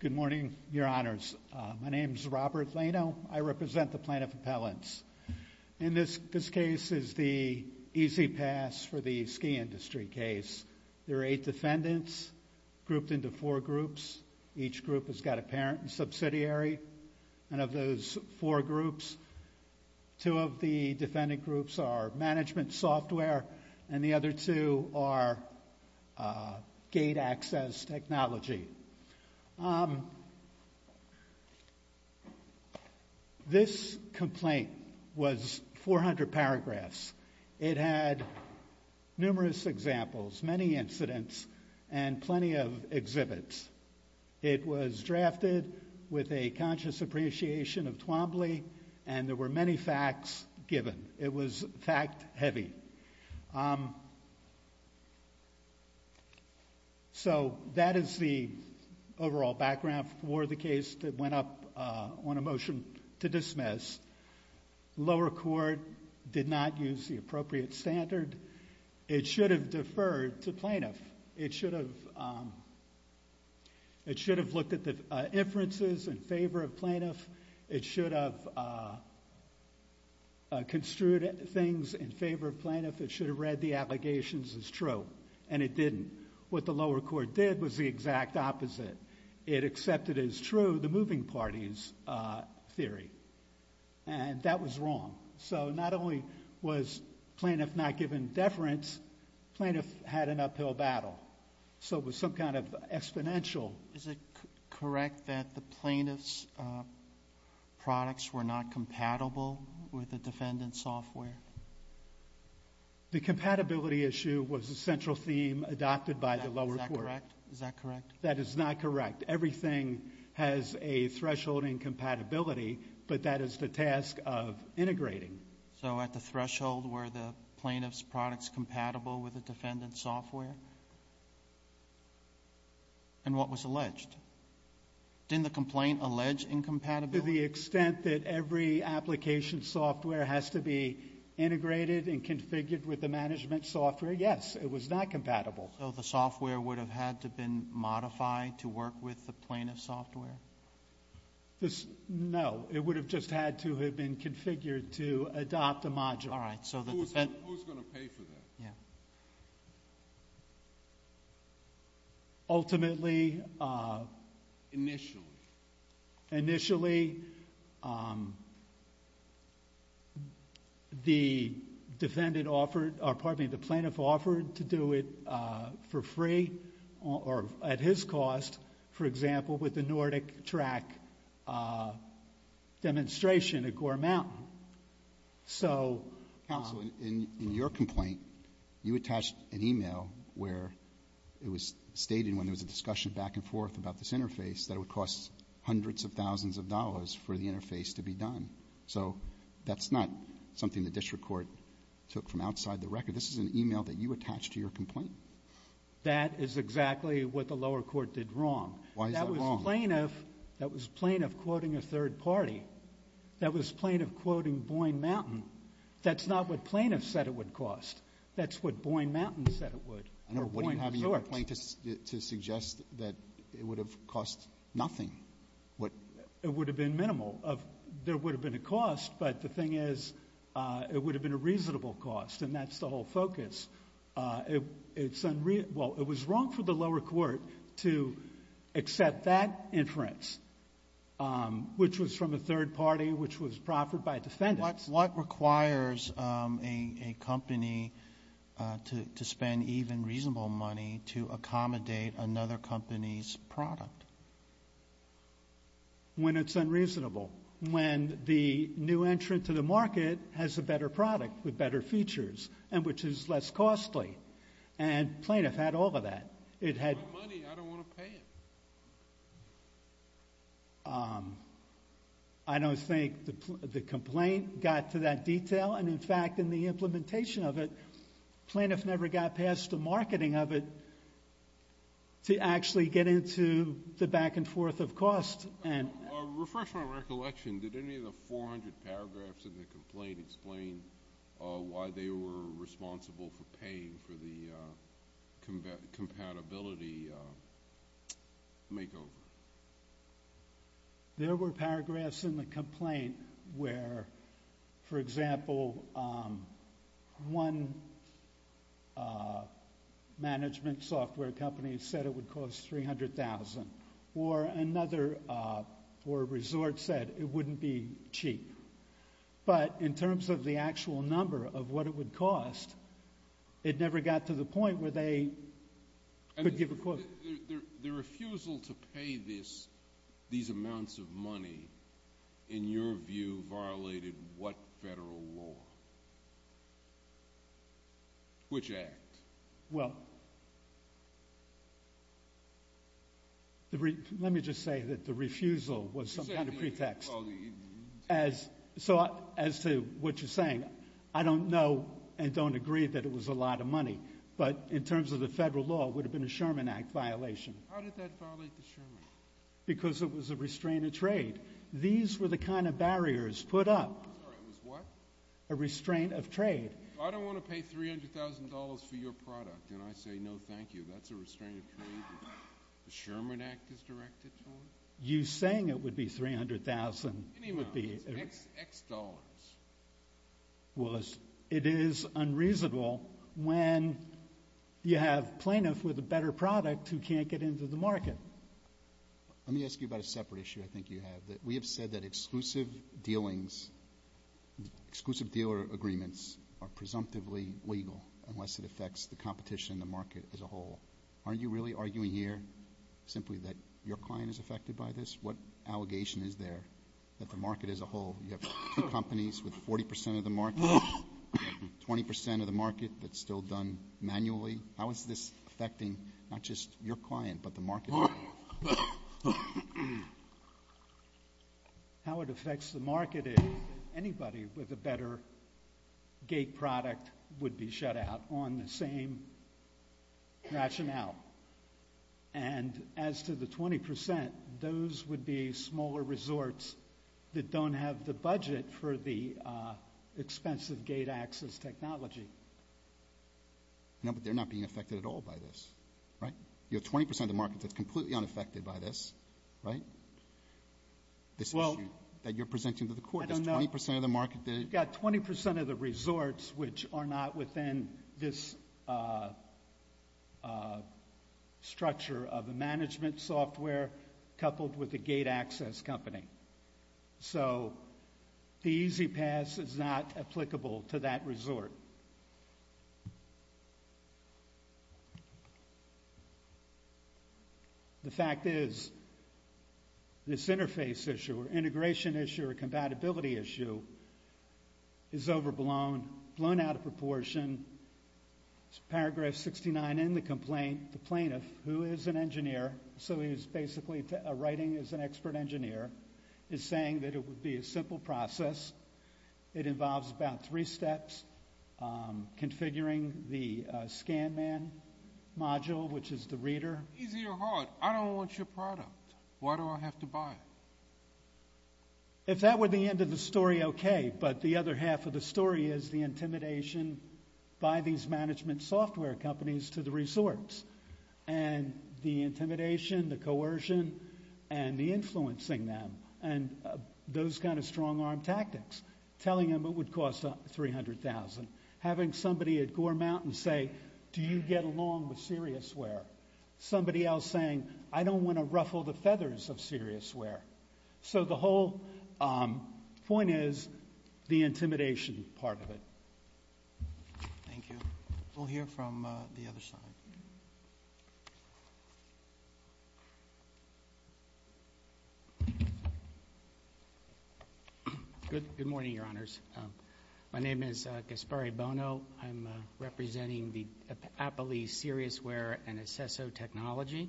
Good morning, Your Honors. My name is Robert Lano. I represent the plaintiff appellants. In this case is the easy pass for the ski industry case. There are eight defendants grouped into four groups. Each group has got a parent and subsidiary. And of those four groups, two of the defendant groups are management software, and the other two are gate access technology. This complaint was 400 paragraphs. It had numerous examples. Many incidents and plenty of exhibits. It was drafted with a conscious appreciation of Twombly, and there were many facts given. It was fact heavy. So that is the overall background for the case that went up on a motion to dismiss. Lower court did not use the appropriate standard. It should have deferred to plaintiff. It should have looked at the inferences in favor of plaintiff. It should have construed things in favor of plaintiff. It should have read the allegations as true. And it didn't. What the lower court did was the exact opposite. It accepted as true the moving parties theory. And that was wrong. So not only was plaintiff not given deference, plaintiff had an uphill battle. So it was some kind of exponential. Is it correct that the plaintiff's products were not compatible with the defendant's software? The compatibility issue was a central theme adopted by the lower court. That is not correct. Everything has a threshold in compatibility, but that is the task of integrating. So at the threshold, were the plaintiff's products compatible with the defendant's software? And what was alleged? Didn't the complaint allege incompatibility? To the extent that every application software has to be integrated and configured with the management software, yes. It was not compatible. So the software would have had to been modified to work with the plaintiff's software? No. It would have just had to have been configured to adopt the module. All right. Who's going to pay for that? Yeah. Ultimately, initially, the defendant offered, or pardon me, the plaintiff offered to do it for free or at his cost. For example, with the NordicTrack demonstration at Gore Mountain. Counsel, in your complaint, you attached an email where it was stated when there was a discussion back and forth about this interface that it would cost hundreds of thousands of dollars for the interface to be done. So that's not something the district court took from outside the record. This is an email that you attached to your complaint. That is exactly what the lower court did wrong. Why is that wrong? That was plaintiff quoting a third party. That was plaintiff quoting Boyne Mountain. That's not what plaintiff said it would cost. That's what Boyne Mountain said it would, or Boyne Court. I know, but what do you have in your complaint to suggest that it would have cost nothing? It would have been minimal. There would have been a cost, but the thing is it would have been a reasonable cost. And that's the whole focus. Well, it was wrong for the lower court to accept that inference, which was from a third party, which was proffered by a defendant. What requires a company to spend even reasonable money to accommodate another company's product? When it's unreasonable. When the new entrant to the market has a better product with better features, and which is less costly. And plaintiff had all of that. It had money, I don't want to pay it. I don't think the complaint got to that detail. And in fact, in the implementation of it, plaintiff never got past the marketing of it to actually get into the back and forth of cost. Refresh my recollection. Did any of the 400 paragraphs in the complaint explain why they were responsible for paying for the compatibility makeover? There were paragraphs in the complaint where, for example, one management software company said it would cost $300,000. Or another resort said it wouldn't be cheap. But in terms of the actual number of what it would cost, it never got to the point where they could give a quote. The refusal to pay these amounts of money, in your view, violated what federal law? Which act? Well, let me just say that the refusal was some kind of pretext. So as to what you're saying, I don't know and don't agree that it was a lot of money. But in terms of the federal law, it would have been a Sherman Act violation. How did that violate the Sherman? Because it was a restraint of trade. These were the kind of barriers put up. I'm sorry, it was what? A restraint of trade. I don't want to pay $300,000 for your product. And I say, no, thank you. That's a restraint of trade. The Sherman Act is directed to it. You saying it would be $300,000 would be it is unreasonable when you have plaintiffs with a better product who can't get into the market. Let me ask you about a separate issue I think you have. We have said that exclusive dealings, exclusive dealer agreements, are presumptively legal unless it affects the competition in the market as a whole. Aren't you really arguing here simply that your client is affected by this? What allegation is there that the market as a whole, you have two companies with 40% of the market, 20% of the market that's still done manually? How is this affecting not just your client, but the market as a whole? How it affects the market is anybody with a better gate product would be shut out on the same rationale. And as to the 20%, those would be smaller resorts that don't have the budget for the expensive gate access technology. No, but they're not being affected at all by this, right? You have 20% of the market that's completely unaffected by this, right? This issue that you're presenting to the court, there's 20% of the market that is. You've got 20% of the resorts which are not structure of the management software coupled with the gate access company. So the E-ZPass is not applicable to that resort. The fact is, this interface issue or integration issue or compatibility issue is overblown, blown out of proportion. It's paragraph 69 in the complaint. The plaintiff, who is an engineer, so he's basically writing as an expert engineer, is saying that it would be a simple process. It involves about three steps. Configuring the ScanMan module, which is the reader. Easy or hard, I don't want your product. Why do I have to buy it? If that were the end of the story, OK. But the other half of the story is the intimidation by these management software companies to the resorts. And the intimidation, the coercion, and the influencing them. And those kind of strong arm tactics. Telling them it would cost $300,000. Having somebody at Gore Mountain say, do you get along with Seriousware? Somebody else saying, I don't want to ruffle the feathers of Seriousware. So the whole point is the intimidation part of it. Thank you. We'll hear from the other side. Good morning, Your Honors. My name is Gaspari Bono. I'm representing the Appalachee Seriousware and Asesso Technology.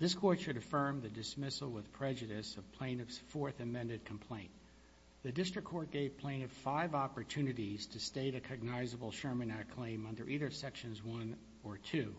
This court should affirm the dismissal with prejudice of plaintiff's fourth amended complaint. The district court gave plaintiff five opportunities to state a cognizable Sherman Act claim under either sections one or two.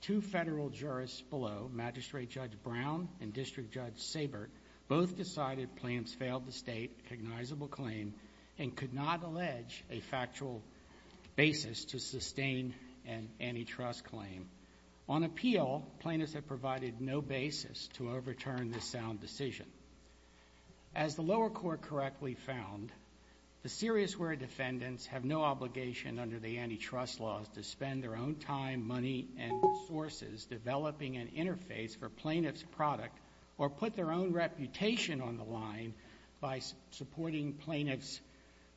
Two federal jurists below, Magistrate Judge Brown and District Judge Sabert, both decided plaintiffs failed to state a cognizable claim and could not allege a factual basis to sustain an antitrust claim. On appeal, plaintiffs have provided no basis to overturn this sound decision. As the lower court correctly found, the Seriousware defendants have no obligation under the antitrust laws to spend their own time, money, and resources developing an interface for plaintiff's product or put their own reputation on the line by supporting plaintiff's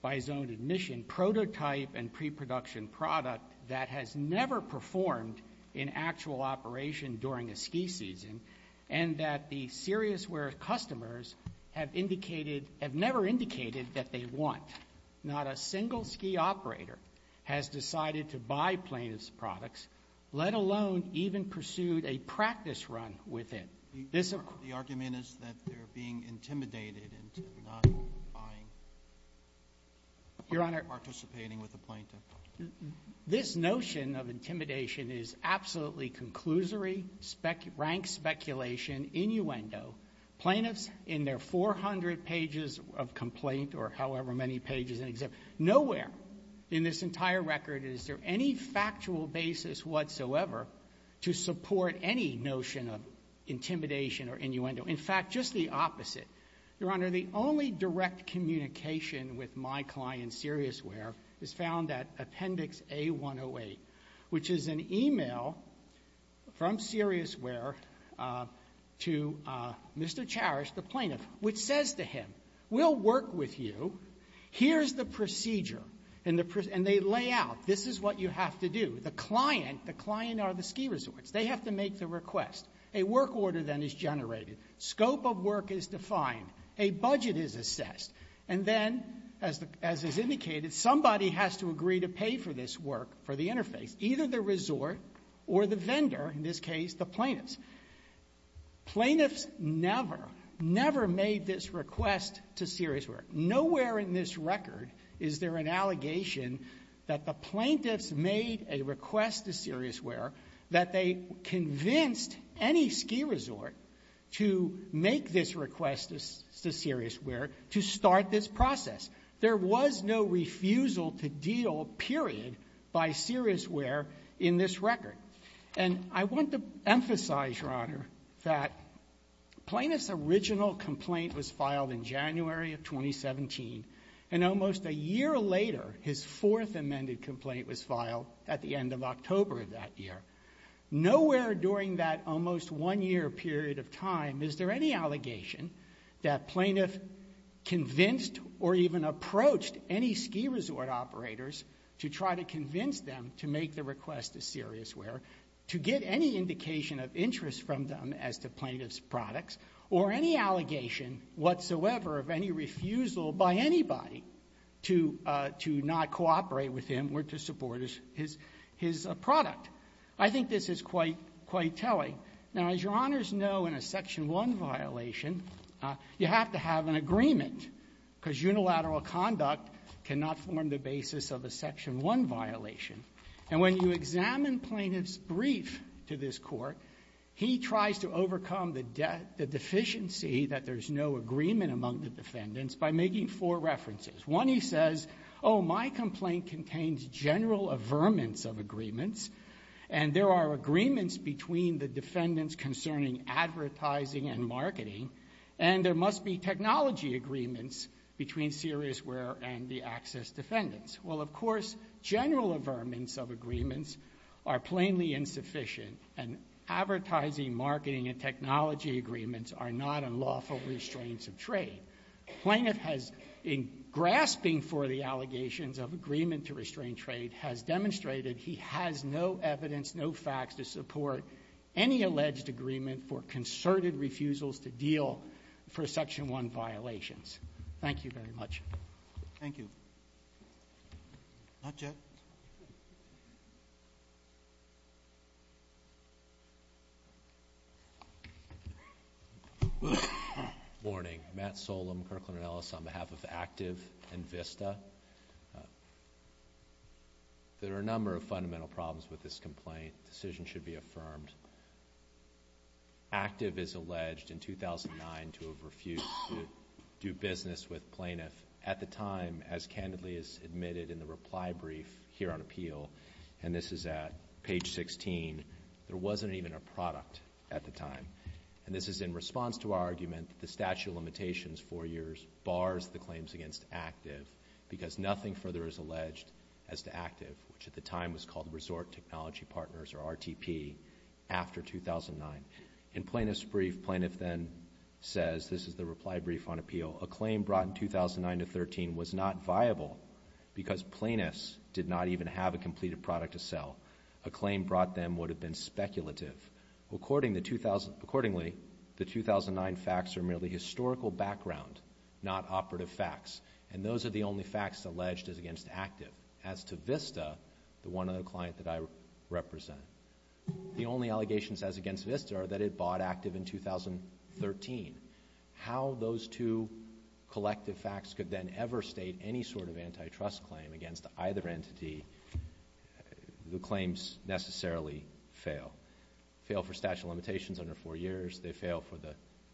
by his own admission prototype and pre-production product that has never performed in actual operation during a ski season and that the Seriousware customers have never indicated that they want. Not a single ski operator has decided to buy plaintiff's products, let alone even pursued a practice run with it. The argument is that they're being intimidated into not buying or participating with the plaintiff. This notion of intimidation is absolutely conclusory, rank speculation, innuendo. Plaintiffs, in their 400 pages of complaint or however many pages, nowhere in this entire record is there any factual basis whatsoever to support any notion of intimidation or innuendo. In fact, just the opposite. Your Honor, the only direct communication with my client, Seriousware, is found at appendix A-108, which is an email from Seriousware to Mr. Charest, the plaintiff, which says to him, we'll work with you. Here's the procedure. And they lay out, this is what you have to do. The client, the client are the ski resorts. They have to make the request. A work order then is generated. Scope of work is defined. A budget is assessed. And then, as is indicated, somebody has to agree to pay for this work, for the interface. Either the resort or the vendor, in this case, the plaintiffs. Plaintiffs never, never made this request to Seriousware. Nowhere in this record is there an allegation that the plaintiffs made a request to Seriousware that they convinced any ski resort to make this request to Seriousware to start this process. There was no refusal to deal, period, by Seriousware in this record. And I want to emphasize, Your Honor, that Plaintiff's original complaint was filed in January of 2017. And almost a year later, his fourth amended complaint was filed at the end of October of that year. Nowhere during that almost one year period of time is there any allegation that Plaintiff convinced or even approached any ski resort operators to try to convince them to make the request to Seriousware to get any indication of interest from them as to Plaintiff's products, or any allegation whatsoever of any refusal by anybody to not cooperate with him or to support his product. I think this is quite telling. Now, as Your Honors know, in a Section 1 violation, you have to have an agreement, because unilateral conduct cannot form the basis of a Section 1 violation. And when you examine Plaintiff's brief to this Court, he tries to overcome the deficiency that there's no agreement among the defendants by making four references. One, he says, oh, my complaint contains general averments of agreements. And there are agreements between the defendants concerning advertising and marketing. And there must be technology agreements between Seriousware and the access defendants. Well, of course, general averments of agreements are plainly insufficient. And advertising, marketing, and technology agreements are not unlawful restraints of trade. Plaintiff has, in grasping for the allegations of agreement to restrain trade, has demonstrated he has no evidence, no facts, to support any alleged agreement for concerted refusals to deal for Section 1 violations. Thank you very much. Thank you. Not yet. Thank you. Morning. Matt Solem, Kirkland & Ellis on behalf of ACTIV and VISTA. There are a number of fundamental problems with this complaint. Decision should be affirmed. ACTIV is alleged in 2009 to have refused to do business with Plaintiff. At the time, as candidly as admitted in the reply brief here on appeal, and this is at page 16, there wasn't even a product at the time. And this is in response to our argument that the statute of limitations four years bars the claims against ACTIV because nothing further is alleged as to ACTIV, which at the time was called Resort Technology Partners, or RTP, after 2009. In Plaintiff's brief, Plaintiff then says, this is the reply brief on appeal, a claim brought in 2009 to 13 was not viable because plaintiffs did not even have a completed product to sell. A claim brought them would have been speculative. Accordingly, the 2009 facts are merely historical background, not operative facts. And those are the only facts alleged as against ACTIV. As to VISTA, the one other client that I represent, the only allegations as against VISTA are that it bought ACTIV in 2013. How those two collective facts could then ever state any sort of antitrust claim against either entity, the claims necessarily fail. Fail for statute of limitations under four years, they fail for the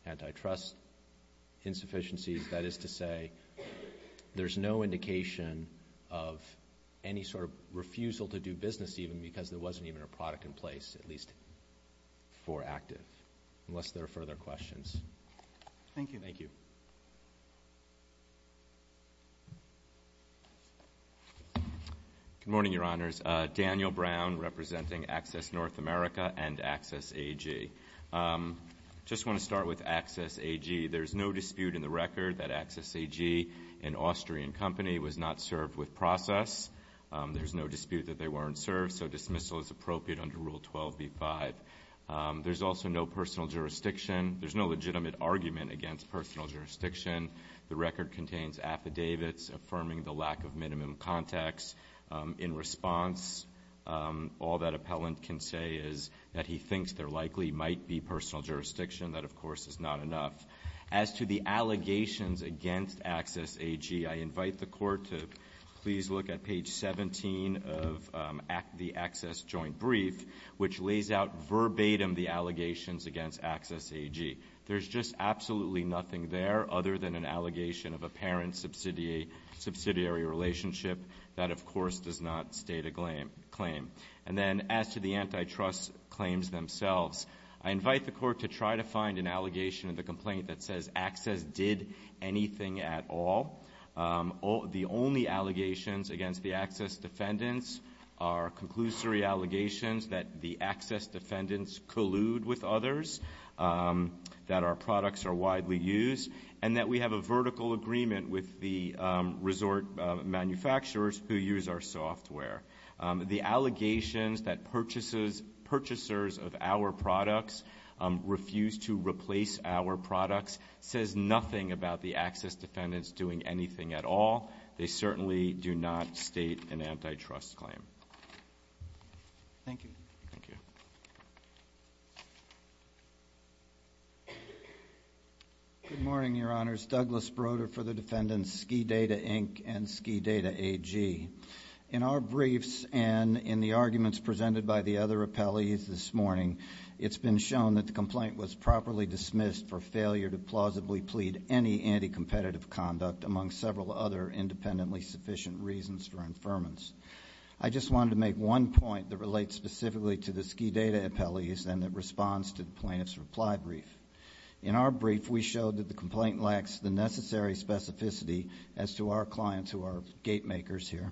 antitrust insufficiencies. That is to say, there's no indication of any sort of refusal to do business, even because there wasn't even a product in place, at least for ACTIV, unless there are further questions. Thank you. Thank you. Good morning, Your Honors. Daniel Brown representing Access North America and Access AG. Just want to start with Access AG. There's no dispute in the record that Access AG, an Austrian company, was not served with process. There's no dispute that they weren't served. So dismissal is appropriate under Rule 12b-5. There's also no personal jurisdiction. There's no legitimate argument against personal jurisdiction. The record contains affidavits affirming the lack of minimum context. In response, all that appellant can say is that he thinks there likely might be personal jurisdiction. That, of course, is not enough. As to the allegations against Access AG, I invite the court to please look at page 17 of the Access joint brief, which lays out verbatim the allegations against Access AG. There's just absolutely nothing there other than an allegation of apparent subsidiary relationship. That, of course, does not state a claim. And then as to the antitrust claims themselves, I invite the court to try to find an allegation in the complaint that says anything at all. The only allegations against the access defendants are conclusory allegations that the access defendants collude with others, that our products are widely used, and that we have a vertical agreement with the resort manufacturers who use our software. The allegations that purchasers of our products refuse to replace our products says nothing about the access defendants doing anything at all. They certainly do not state an antitrust claim. Thank you. Thank you. Good morning, Your Honors. Douglas Broder for the defendants, Skidata Inc. and Skidata AG. In our briefs and in the arguments presented by the other appellees this morning, it's been shown that the complaint was properly dismissed for failure to plausibly plead any anti-competitive conduct, among several other independently sufficient reasons for infirmance. I just wanted to make one point that relates specifically to the Skidata appellees and that responds to the plaintiff's reply brief. In our brief, we showed that the complaint lacks the necessary specificity as to our clients who are gate makers here.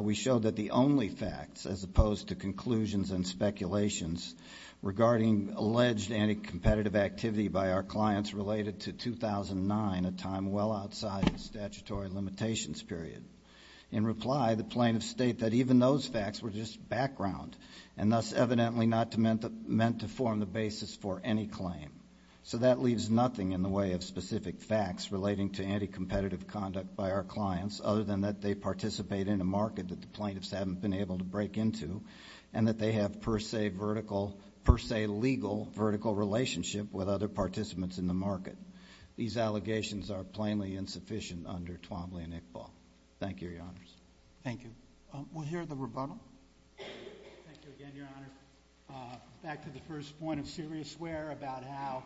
We showed that the only facts, as opposed to conclusions and speculations regarding alleged anti-competitive activity by our clients related to 2009, a time well outside the statutory limitations period. In reply, the plaintiffs state that even those facts were just background and thus evidently not meant to form the basis for any claim. So that leaves nothing in the way of specific facts relating to anti-competitive conduct by our clients, other than that they participate in a market that the plaintiffs haven't been able to break into and that they have per se legal vertical relationship with other participants in the market. These allegations are plainly insufficient under Twombly and Iqbal. Thank you, your honors. Thank you. We'll hear the rebuttal. Thank you again, your honor. Back to the first point of serious where about how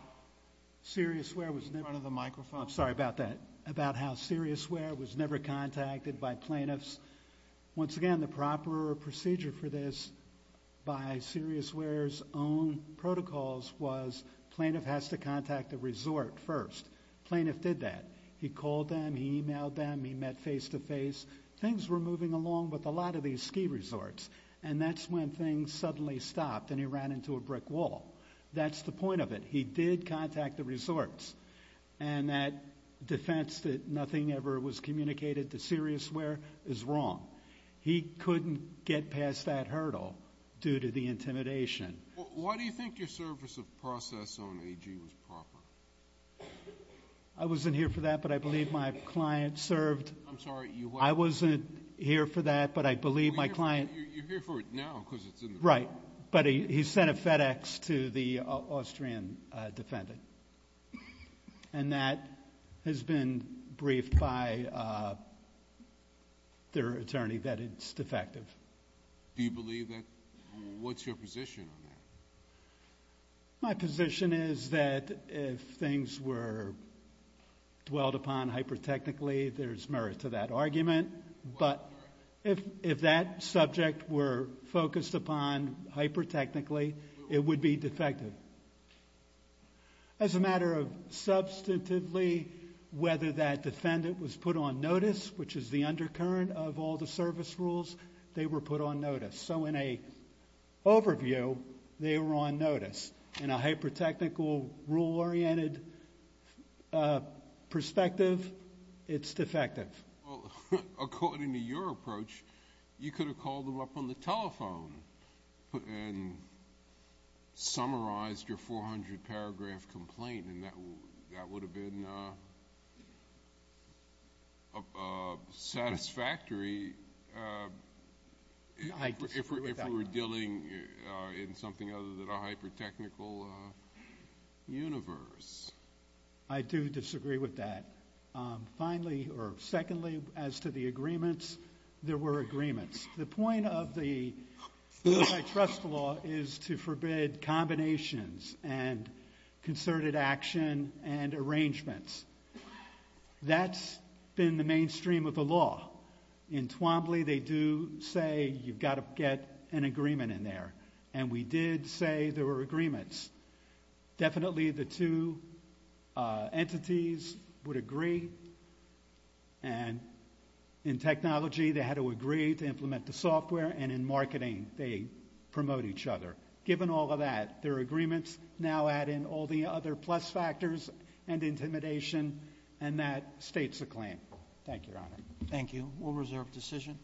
serious where was never. In front of the microphone. I'm sorry about that, about how serious where was never contacted by plaintiffs. Once again, the proper procedure for this by serious where's own protocols was plaintiff has to contact the resort first. Plaintiff did that. He called them, he emailed them, he met face to face. Things were moving along with a lot of these ski resorts and that's when things suddenly stopped and he ran into a brick wall. That's the point of it. He did contact the resorts and that defense that nothing ever was communicated to serious where is wrong. He couldn't get past that hurdle due to the intimidation. Why do you think your service of process on AG was proper? I wasn't here for that but I believe my client served. I'm sorry, you what? I wasn't here for that but I believe my client. You're here for it now because it's in the file. Right, but he sent a FedEx to the Austrian defendant and that has been briefed by their attorney that it's defective. Do you believe that, what's your position on that? My position is that if things were dwelled upon hyper-technically, there's merit to that argument but if that subject were focused upon hyper-technically, it would be defective. As a matter of substantively, whether that defendant was put on notice which is the undercurrent of all the service rules, they were put on notice. So in a overview, they were on notice. In a hyper-technical rule-oriented perspective, it's defective. According to your approach, you could have called them up on the telephone and summarized your 400 paragraph complaint and that would have been satisfactory if we were dealing in something other than a hyper-technical universe. I do disagree with that. Finally, or secondly, as to the agreements, there were agreements. The point of the antitrust law is to forbid combinations and concerted action and arrangements. That's been the mainstream of the law. In Twombly, they do say, you've got to get an agreement in there and we did say there were agreements. Definitely, the two entities would agree and in technology, they had to agree to implement the software and in marketing, they promote each other. Given all of that, their agreements now add in all the other plus factors and intimidation and that states the claim. Thank you, Your Honor. Thank you. We'll reserve decision.